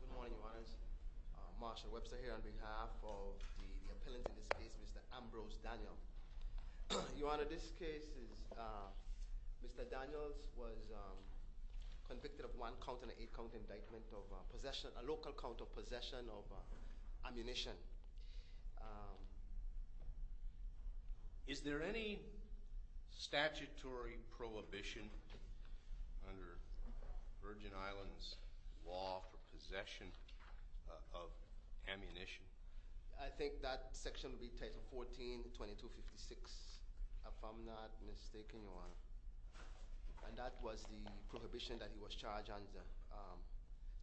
Good morning, your honors. Marshall Webster here on behalf of the appellant in this case, Mr. Ambrose Daniel. Your honor, this case is, Mr. Daniels was convicted of one count and an eight count indictment of possession, a local count of possession of ammunition. Is there any statutory prohibition under Virgin Islands law for possession of ammunition? I think that section would be title 14, 2256, if I'm not mistaken, your honor. And that was the prohibition that he was charged under,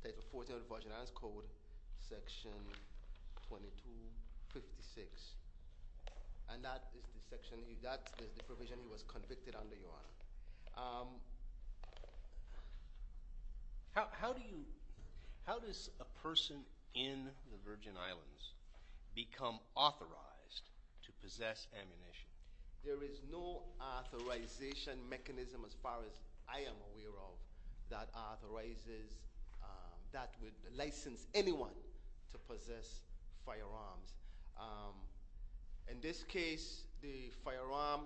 title 14 of the Virgin Islands Code, section 2256. And that is the section, that is the provision he was convicted under, your honor. How do you, how does a person in the Virgin Islands become authorized to possess ammunition? There is no authorization mechanism as far as I am aware of that authorizes, that would license anyone to possess firearms. In this case, the firearm,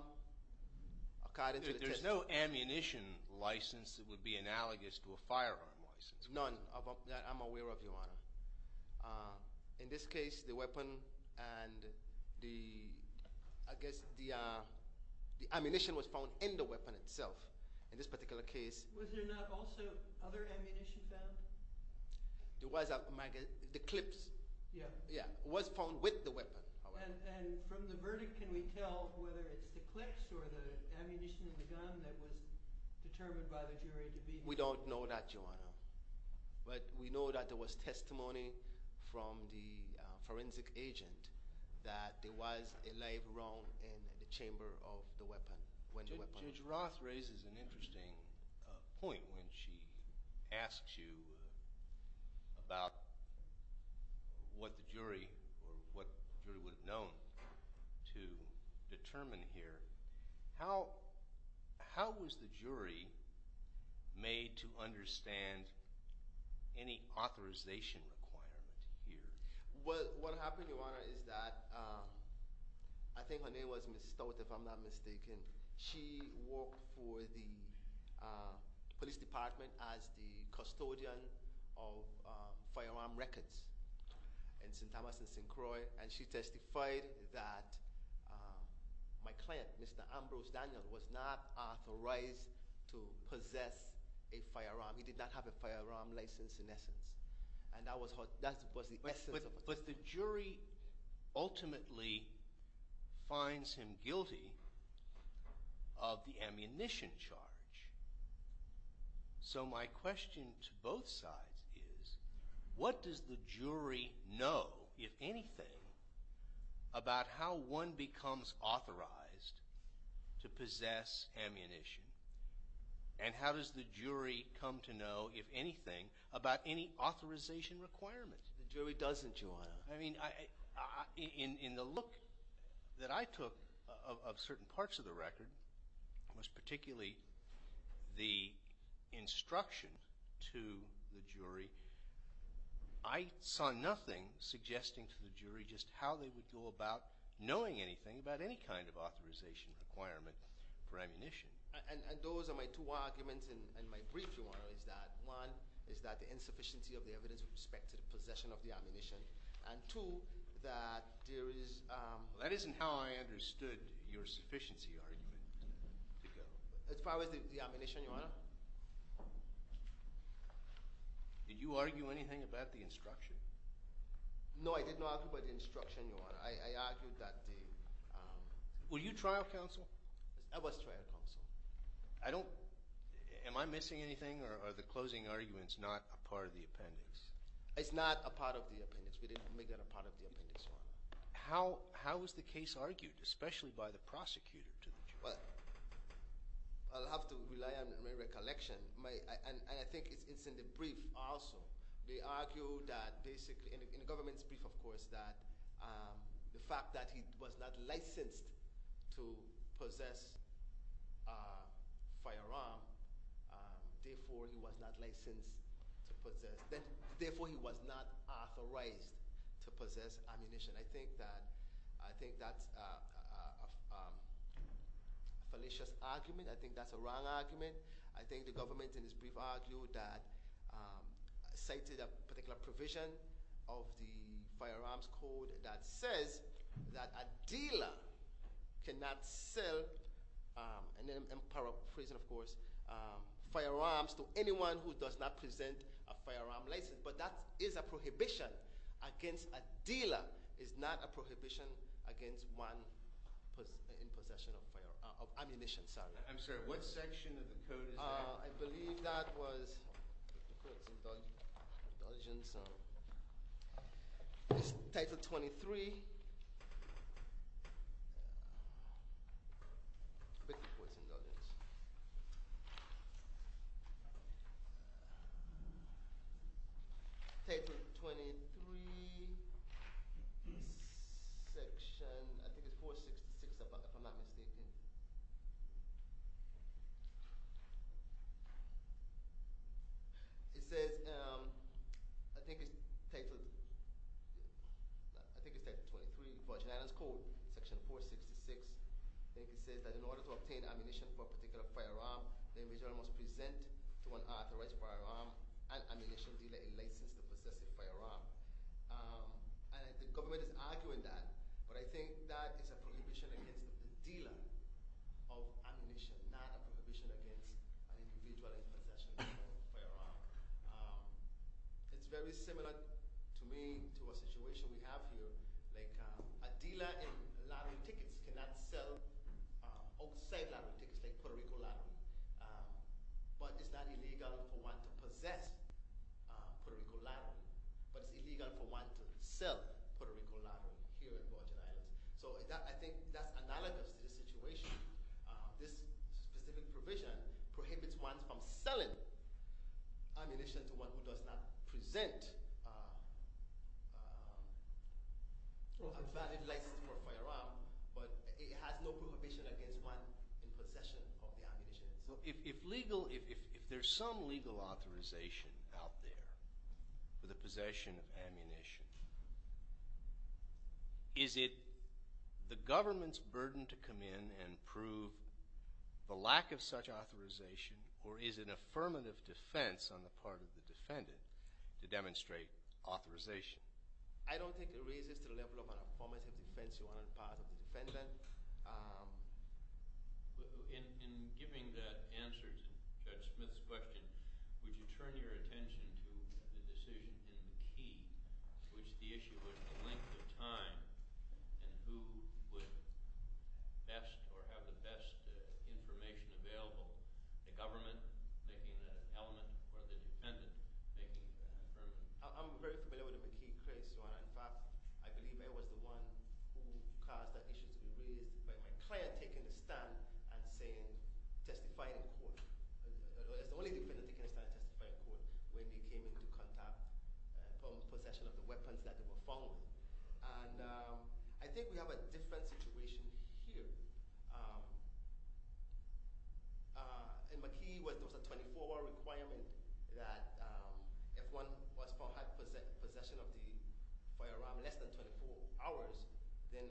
according to the testimony- There's no ammunition license that would be analogous to a firearm license. None that I'm aware of, your honor. In this case, the weapon and the, I guess the ammunition was found in the weapon itself. In this particular case- Was there not also other ammunition found? There was, the clips. Yeah. Yeah, was found with the weapon. And from the verdict, can we tell whether it's the clips or the ammunition in the gun that was determined by the jury to be- We don't know that, your honor. But we know that there was testimony from the forensic agent that there was a live round in the chamber of the weapon, when the weapon- Any authorization requirement here? What happened, your honor, is that, I think her name was Ms. Stout, if I'm not mistaken. She worked for the police department as the custodian of firearm records in St. Thomas and St. Croix. And she testified that my client, Mr. Ambrose Daniel, was not authorized to possess a firearm. He did not have a firearm license in essence. And that was the essence of- But the jury ultimately finds him guilty of the ammunition charge. So my question to both sides is, what does the jury know, if anything, about how one becomes authorized to possess ammunition? And how does the jury come to know, if anything, about any authorization requirement? The jury doesn't, your honor. I mean, in the look that I took of certain parts of the record, most particularly the instruction to the jury, I saw nothing suggesting to the jury just how they would go about knowing anything about any kind of authorization requirement for ammunition. And those are my two arguments. And my brief, your honor, is that, one, is that the insufficiency of the evidence with respect to the possession of the ammunition. And two, that there is- That isn't how I understood your sufficiency argument to go. As far as the ammunition, your honor? Did you argue anything about the instruction? No, I did not argue about the instruction, your honor. I argued that the- Were you trial counsel? I was trial counsel. I don't- am I missing anything, or are the closing arguments not a part of the appendix? It's not a part of the appendix. We didn't make that a part of the appendix, your honor. How was the case argued, especially by the prosecutor to the jury? Well, I'll have to rely on my recollection. And I think it's in the brief also. They argue that basically, in the government's brief, of course, that the fact that he was not licensed to possess a firearm, therefore he was not licensed to possess- Therefore he was not authorized to possess ammunition. I think that's a fallacious argument. I think that's a wrong argument. I think the government, in its brief, argued that- cited a particular provision of the firearms code that says that a dealer cannot sell- in the power of prison, of course- firearms to anyone who does not present a firearm license. But that is a prohibition against a dealer. It's not a prohibition against one in possession of ammunition. I'm sorry, what section of the code is that? I believe that was- title 23. Title 23, section- I think it's 466 if I'm not mistaken. It says- I think it's title- I think it's title 23, Virgin Islands Code, section 466. I think it says that in order to obtain ammunition for a particular firearm, the individual must present to an authorized firearm and ammunition dealer a license to possess a firearm. And the government is arguing that. But I think that is a prohibition against a dealer of ammunition, not a prohibition against an individual in possession of a firearm. It's very similar to me, to a situation we have here. Like a dealer in lottery tickets cannot sell outside lottery tickets, like Puerto Rico lottery. But it's not illegal for one to possess Puerto Rico lottery, but it's illegal for one to sell Puerto Rico lottery here in Virgin Islands. So I think that's analogous to the situation. This specific provision prohibits one from selling ammunition to one who does not present a valid license for a firearm. But it has no prohibition against one in possession of the ammunition. So if legal- if there's some legal authorization out there for the possession of ammunition, is it the government's burden to come in and prove the lack of such authorization, or is it an affirmative defense on the part of the defendant to demonstrate authorization? I don't think it raises to the level of an affirmative defense on the part of the defendant. In giving that answer to Judge Smith's question, would you turn your attention to the decision in the key, which the issue was the length of time, and who would best or have the best information available? The government making that element, or the defendant making that element? I'm very familiar with the McKee case. In fact, I believe I was the one who caused that issue to be raised by my client taking the stand and saying- testifying in court. It's only the defendant taking the stand and testifying in court when he came into contact- possession of the weapons that they were found with. And I think we have a different situation here. In McKee, there was a 24-hour requirement that if one was found to have possession of the firearm in less than 24 hours, then they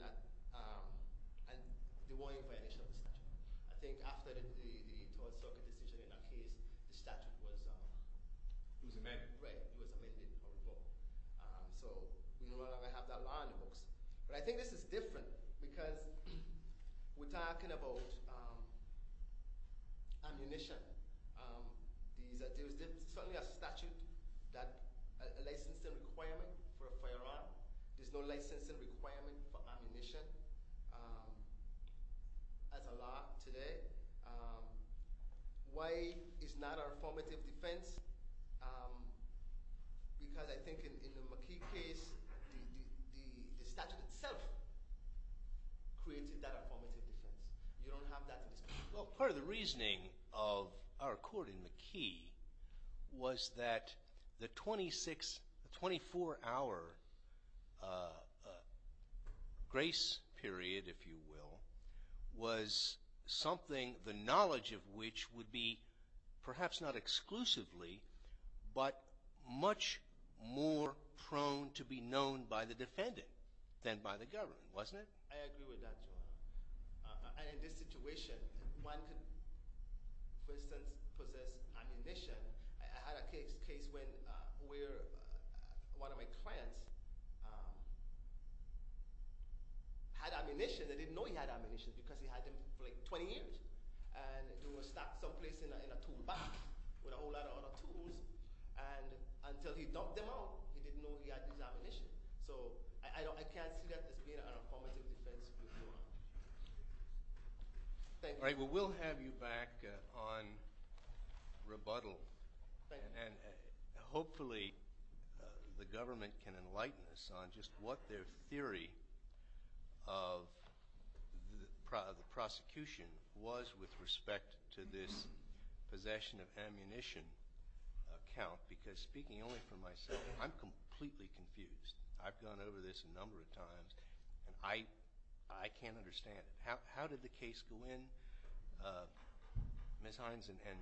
were in violation of the statute. I think after the 12th Circuit decision in that case, the statute was- It was amended. Right. It was amended or revoked. So we no longer have that law in the books. But I think this is different because we're talking about ammunition. There is certainly a statute, a licensing requirement for a firearm. There's no licensing requirement for ammunition as a law today. Why is not a formative defense? Because I think in the McKee case, the statute itself created that formative defense. You don't have that in this case. Well, part of the reasoning of our court in McKee was that the 24-hour grace period, if you will, was something the knowledge of which would be perhaps not exclusively, but much more prone to be known by the defendant than by the government, wasn't it? I agree with that, Your Honor. And in this situation, one could, for instance, possess ammunition. I had a case where one of my clients had ammunition. They didn't know he had ammunition because he had them for, like, 20 years. And it was stacked someplace in a tool box with a whole lot of other tools. And until he dumped them out, he didn't know he had this ammunition. So I can't see that as being a formative defense. Thank you. All right, well, we'll have you back on rebuttal. And hopefully the government can enlighten us on just what their theory of the prosecution was with respect to this possession of ammunition account. Because speaking only for myself, I'm completely confused. I've gone over this a number of times, and I can't understand it. How did the case go in, Ms. Hines? And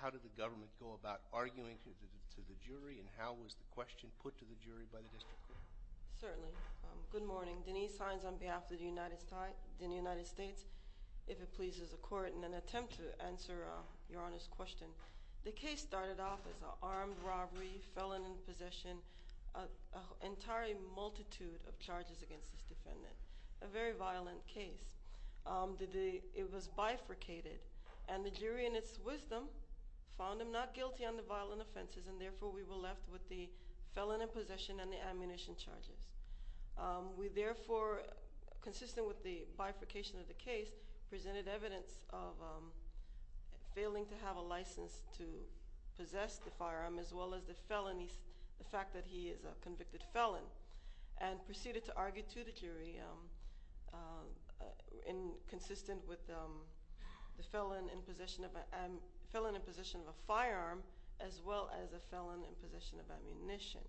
how did the government go about arguing to the jury? And how was the question put to the jury by the district court? Certainly. Good morning. Denise Hines on behalf of the United States. If it pleases the Court, in an attempt to answer Your Honor's question, the case started off as an armed robbery, felon in possession, an entire multitude of charges against this defendant. A very violent case. It was bifurcated. And the jury, in its wisdom, found him not guilty on the violent offenses, and therefore we were left with the felon in possession and the ammunition charges. We therefore, consistent with the bifurcation of the case, presented evidence of failing to have a license to possess the firearm, as well as the fact that he is a convicted felon, and proceeded to argue to the jury consistent with the felon in possession of a firearm, as well as a felon in possession of ammunition.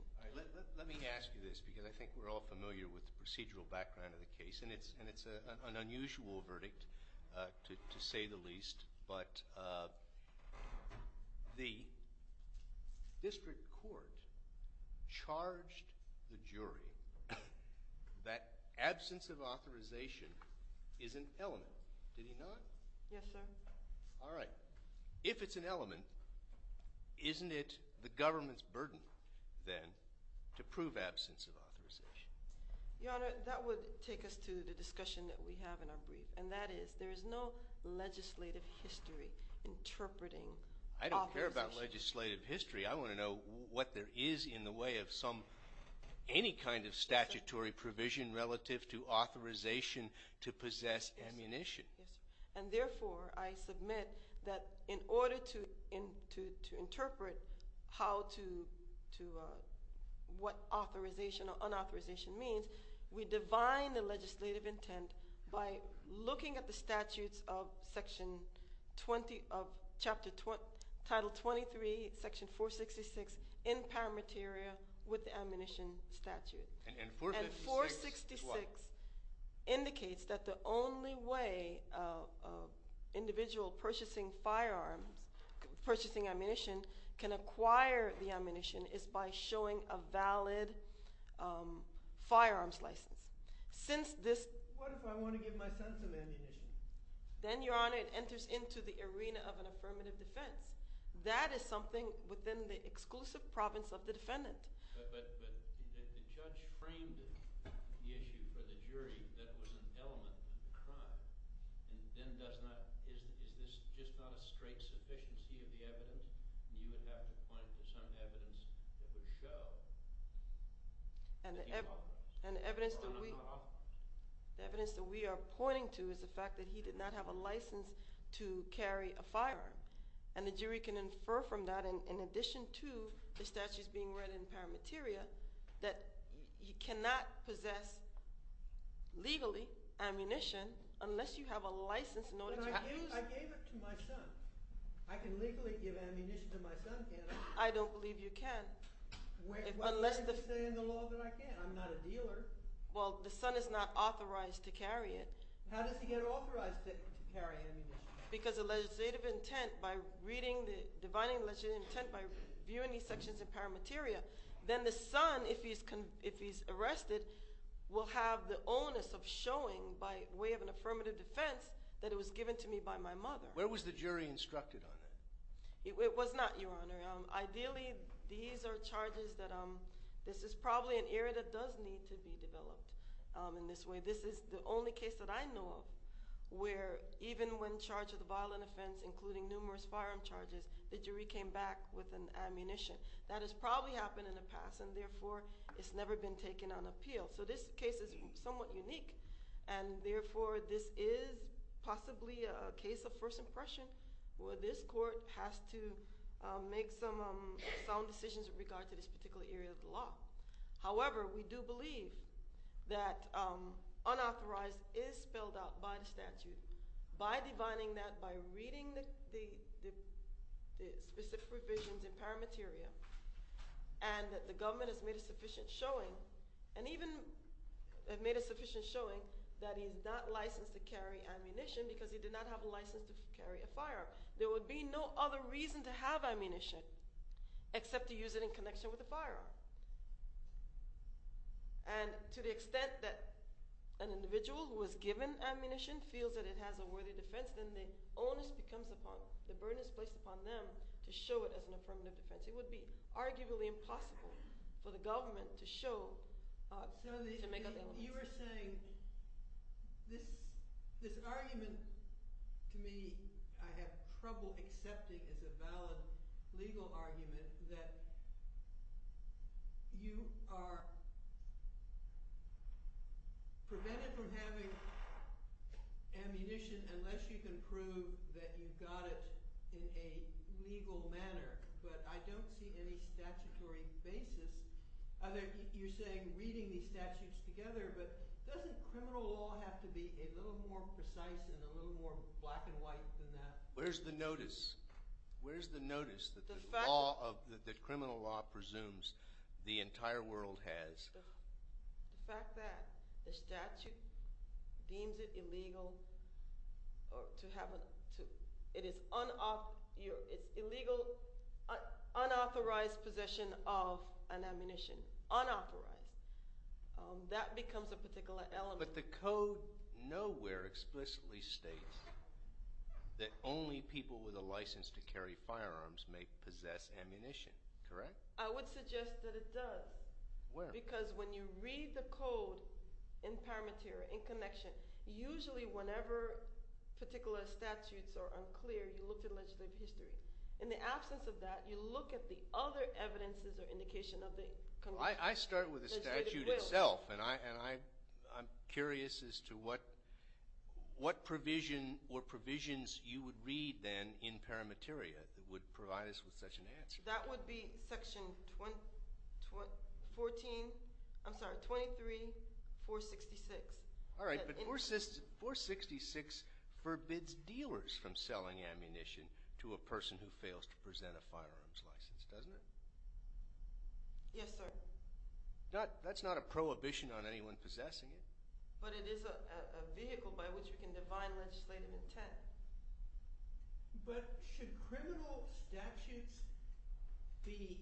Let me ask you this, because I think we're all familiar with the procedural background of the case, and it's an unusual verdict, to say the least. But the district court charged the jury that absence of authorization is an element. Did he not? Yes, sir. All right. If it's an element, isn't it the government's burden, then, to prove absence of authorization? Your Honor, that would take us to the discussion that we have in our brief, and that is there is no legislative history interpreting authorization. I don't care about legislative history. I want to know what there is in the way of any kind of statutory provision relative to authorization to possess ammunition. Yes, sir. And therefore, I submit that in order to interpret what authorization or unauthorization means, we divine the legislative intent by looking at the statutes of section 20 of chapter 23, section 466, in paramateria with the ammunition statute. And 466 what? And 466 indicates that the only way an individual purchasing firearms, purchasing ammunition, can acquire the ammunition is by showing a valid firearms license. What if I want to give my son some ammunition? Then, Your Honor, it enters into the arena of an affirmative defense. That is something within the exclusive province of the defendant. But the judge framed the issue for the jury that it was an element of the crime. And then does not, is this just not a straight sufficiency of the evidence? You would have to point to some evidence that would show. And the evidence that we are pointing to is the fact that he did not have a license to carry a firearm. And the jury can infer from that, in addition to the statutes being read in paramateria, that you cannot possess legally ammunition unless you have a license in order to have it. But I gave it to my son. I can legally give ammunition to my son, can't I? I don't believe you can. What does it say in the law that I can't? I'm not a dealer. Well, the son is not authorized to carry it. How does he get authorized to carry ammunition? Because of legislative intent by reading the, divining the legislative intent by reviewing these sections of paramateria. Then the son, if he's arrested, will have the onus of showing by way of an affirmative defense that it was given to me by my mother. Where was the jury instructed on it? It was not, Your Honor. Ideally, these are charges that, this is probably an area that does need to be developed in this way. This is the only case that I know of where even when charged with a violent offense, including numerous firearm charges, the jury came back with an ammunition. That has probably happened in the past, and therefore, it's never been taken on appeal. So this case is somewhat unique, and therefore, this is possibly a case of first impression, where this court has to make some sound decisions with regard to this particular area of the law. However, we do believe that unauthorized is spelled out by the statute. By divining that, by reading the specific provisions in paramateria, and that the government has made a sufficient showing, and even made a sufficient showing, that he's not licensed to carry ammunition because he did not have a license to carry a firearm. There would be no other reason to have ammunition except to use it in connection with a firearm. And to the extent that an individual who was given ammunition feels that it has a worthy defense, then the onus becomes upon, the burden is placed upon them to show it as an affirmative defense. It would be arguably impossible for the government to show, to make up their own. You are saying this argument to me, I have trouble accepting as a valid legal argument, that you are prevented from having ammunition unless you can prove that you got it in a legal manner. But I don't see any statutory basis. You're saying reading these statutes together, but doesn't criminal law have to be a little more precise and a little more black and white than that? Where's the notice? Where's the notice that criminal law presumes the entire world has? The fact that the statute deems it illegal, it's illegal, unauthorized possession of an ammunition, unauthorized. That becomes a particular element. But the code nowhere explicitly states that only people with a license to carry firearms may possess ammunition, correct? I would suggest that it does. Where? Because when you read the code in paramateria, in connection, usually whenever particular statutes are unclear, you look at legislative history. In the absence of that, you look at the other evidences or indication of the congressional legislative will. I start with the statute itself, and I'm curious as to what provision or provisions you would read then in paramateria that would provide us with such an answer. That would be Section 14 – I'm sorry, 23-466. All right, but 466 forbids dealers from selling ammunition to a person who fails to present a firearms license, doesn't it? Yes, sir. That's not a prohibition on anyone possessing it. But it is a vehicle by which we can define legislative intent. But should criminal statutes be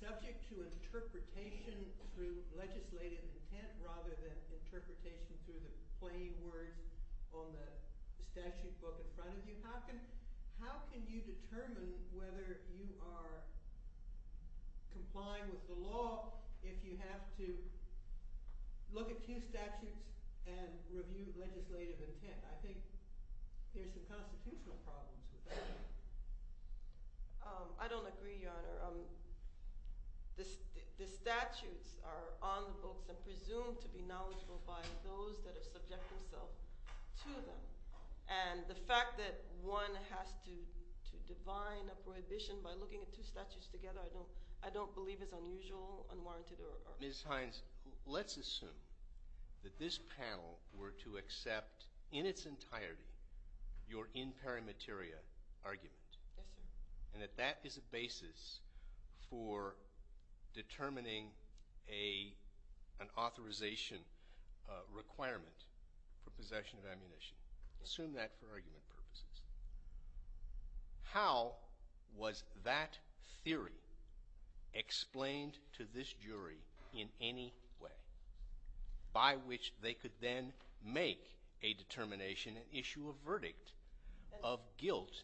subject to interpretation through legislative intent rather than interpretation through the plain words on the statute book in front of you? How can you determine whether you are complying with the law if you have to look at two statutes and review legislative intent? I think there are some constitutional problems with that. I don't agree, Your Honor. The statutes are on the books and presumed to be knowledgeable by those that have subjected themselves to them. And the fact that one has to define a prohibition by looking at two statutes together I don't believe is unusual, unwarranted, or – Ms. Hines, let's assume that this panel were to accept in its entirety your in pari materia argument. Yes, sir. And that that is a basis for determining an authorization requirement for possession of ammunition. Assume that for argument purposes. How was that theory explained to this jury in any way by which they could then make a determination, issue a verdict of guilt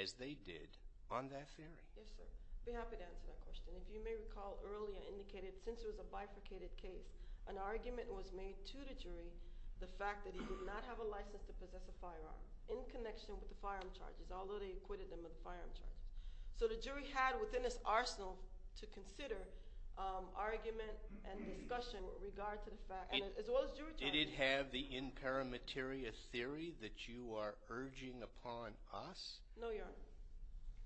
as they did on that theory? Yes, sir. I'd be happy to answer that question. If you may recall earlier indicated since it was a bifurcated case, an argument was made to the jury the fact that he did not have a license to possess a firearm in connection with the firearm charges, although they acquitted him of the firearm charges. So the jury had within its arsenal to consider argument and discussion with regard to the fact – as well as jury charges. Did it have the in pari materia theory that you are urging upon us? No, Your Honor.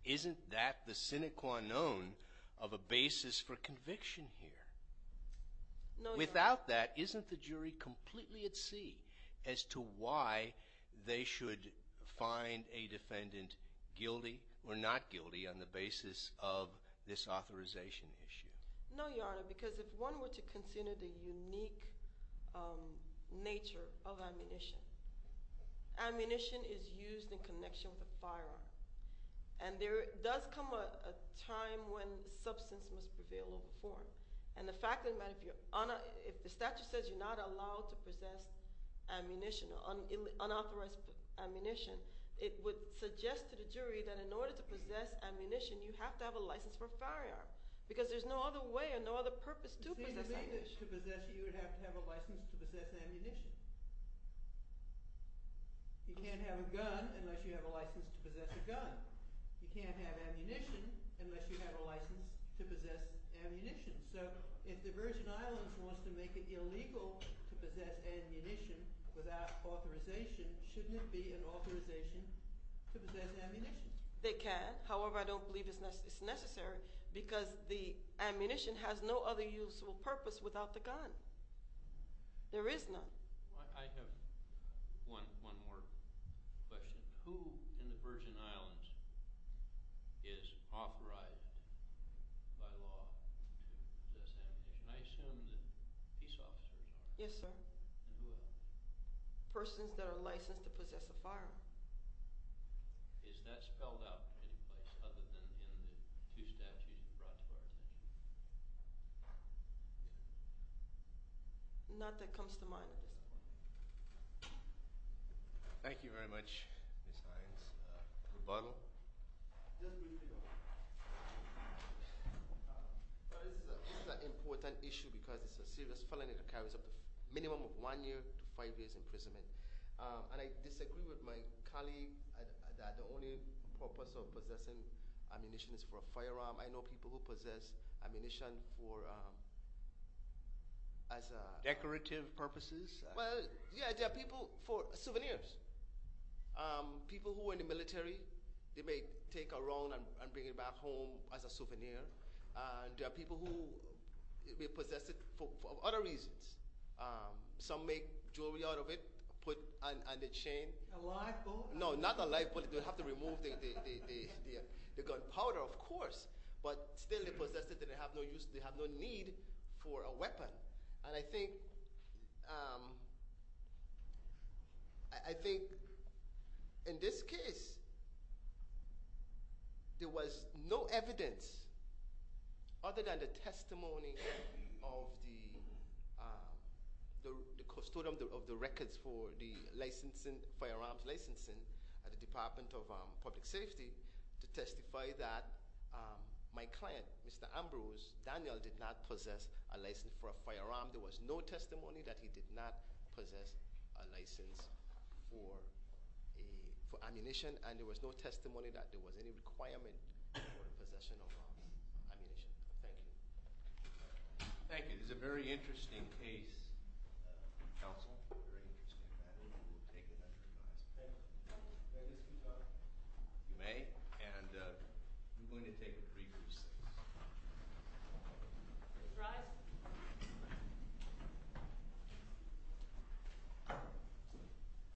Isn't that the sine qua non of a basis for conviction here? No, Your Honor. Without that, isn't the jury completely at sea as to why they should find a defendant guilty or not guilty on the basis of this authorization issue? No, Your Honor, because if one were to consider the unique nature of ammunition, ammunition is used in connection with a firearm. And there does come a time when substance must prevail over form. And the fact that if you're – if the statute says you're not allowed to possess ammunition, unauthorized ammunition, it would suggest to the jury that in order to possess ammunition, you have to have a license for a firearm because there's no other way or no other purpose to possess ammunition. It seems to me that to possess it, you would have to have a license to possess ammunition. You can't have a gun unless you have a license to possess a gun. You can't have ammunition unless you have a license to possess ammunition. So if the Virgin Islands wants to make it illegal to possess ammunition without authorization, shouldn't it be an authorization to possess ammunition? They can. However, I don't believe it's necessary because the ammunition has no other useful purpose without the gun. There is none. I have one more question. Who in the Virgin Islands is authorized by law to possess ammunition? I assume that peace officers are. Yes, sir. And who else? Persons that are licensed to possess a firearm. Is that spelled out in any place other than in the two statutes brought to our attention? Not that it comes to mind at this point. Thank you very much, Ms. Hines. Rebuttal? Just briefly, this is an important issue because it's a serious felony that carries up to a minimum of one year to five years' imprisonment. And I disagree with my colleague that the only purpose of possessing ammunition is for a firearm. I know people who possess ammunition for as a— Decorative purposes? Well, yeah, they're people for souvenirs. People who are in the military, they may take around and bring it back home as a souvenir. And there are people who may possess it for other reasons. Some make jewelry out of it, put on the chain. A live bullet? No, not a live bullet. They have to remove the gunpowder, of course. But still, they possess it. They have no need for a weapon. And I think in this case, there was no evidence other than the testimony of the custodian of the records for the firearms licensing at the Department of Public Safety to testify that my client, Mr. Ambrose Daniel, did not possess a license for a firearm. There was no testimony that he did not possess a license for ammunition. And there was no testimony that there was any requirement for the possession of ammunition. Thank you. Thank you. This is a very interesting case, counsel. Very interesting. And I think we'll take it under advisement. Thank you. May I discuss? You may. And we're going to take a brief recess. Please rise.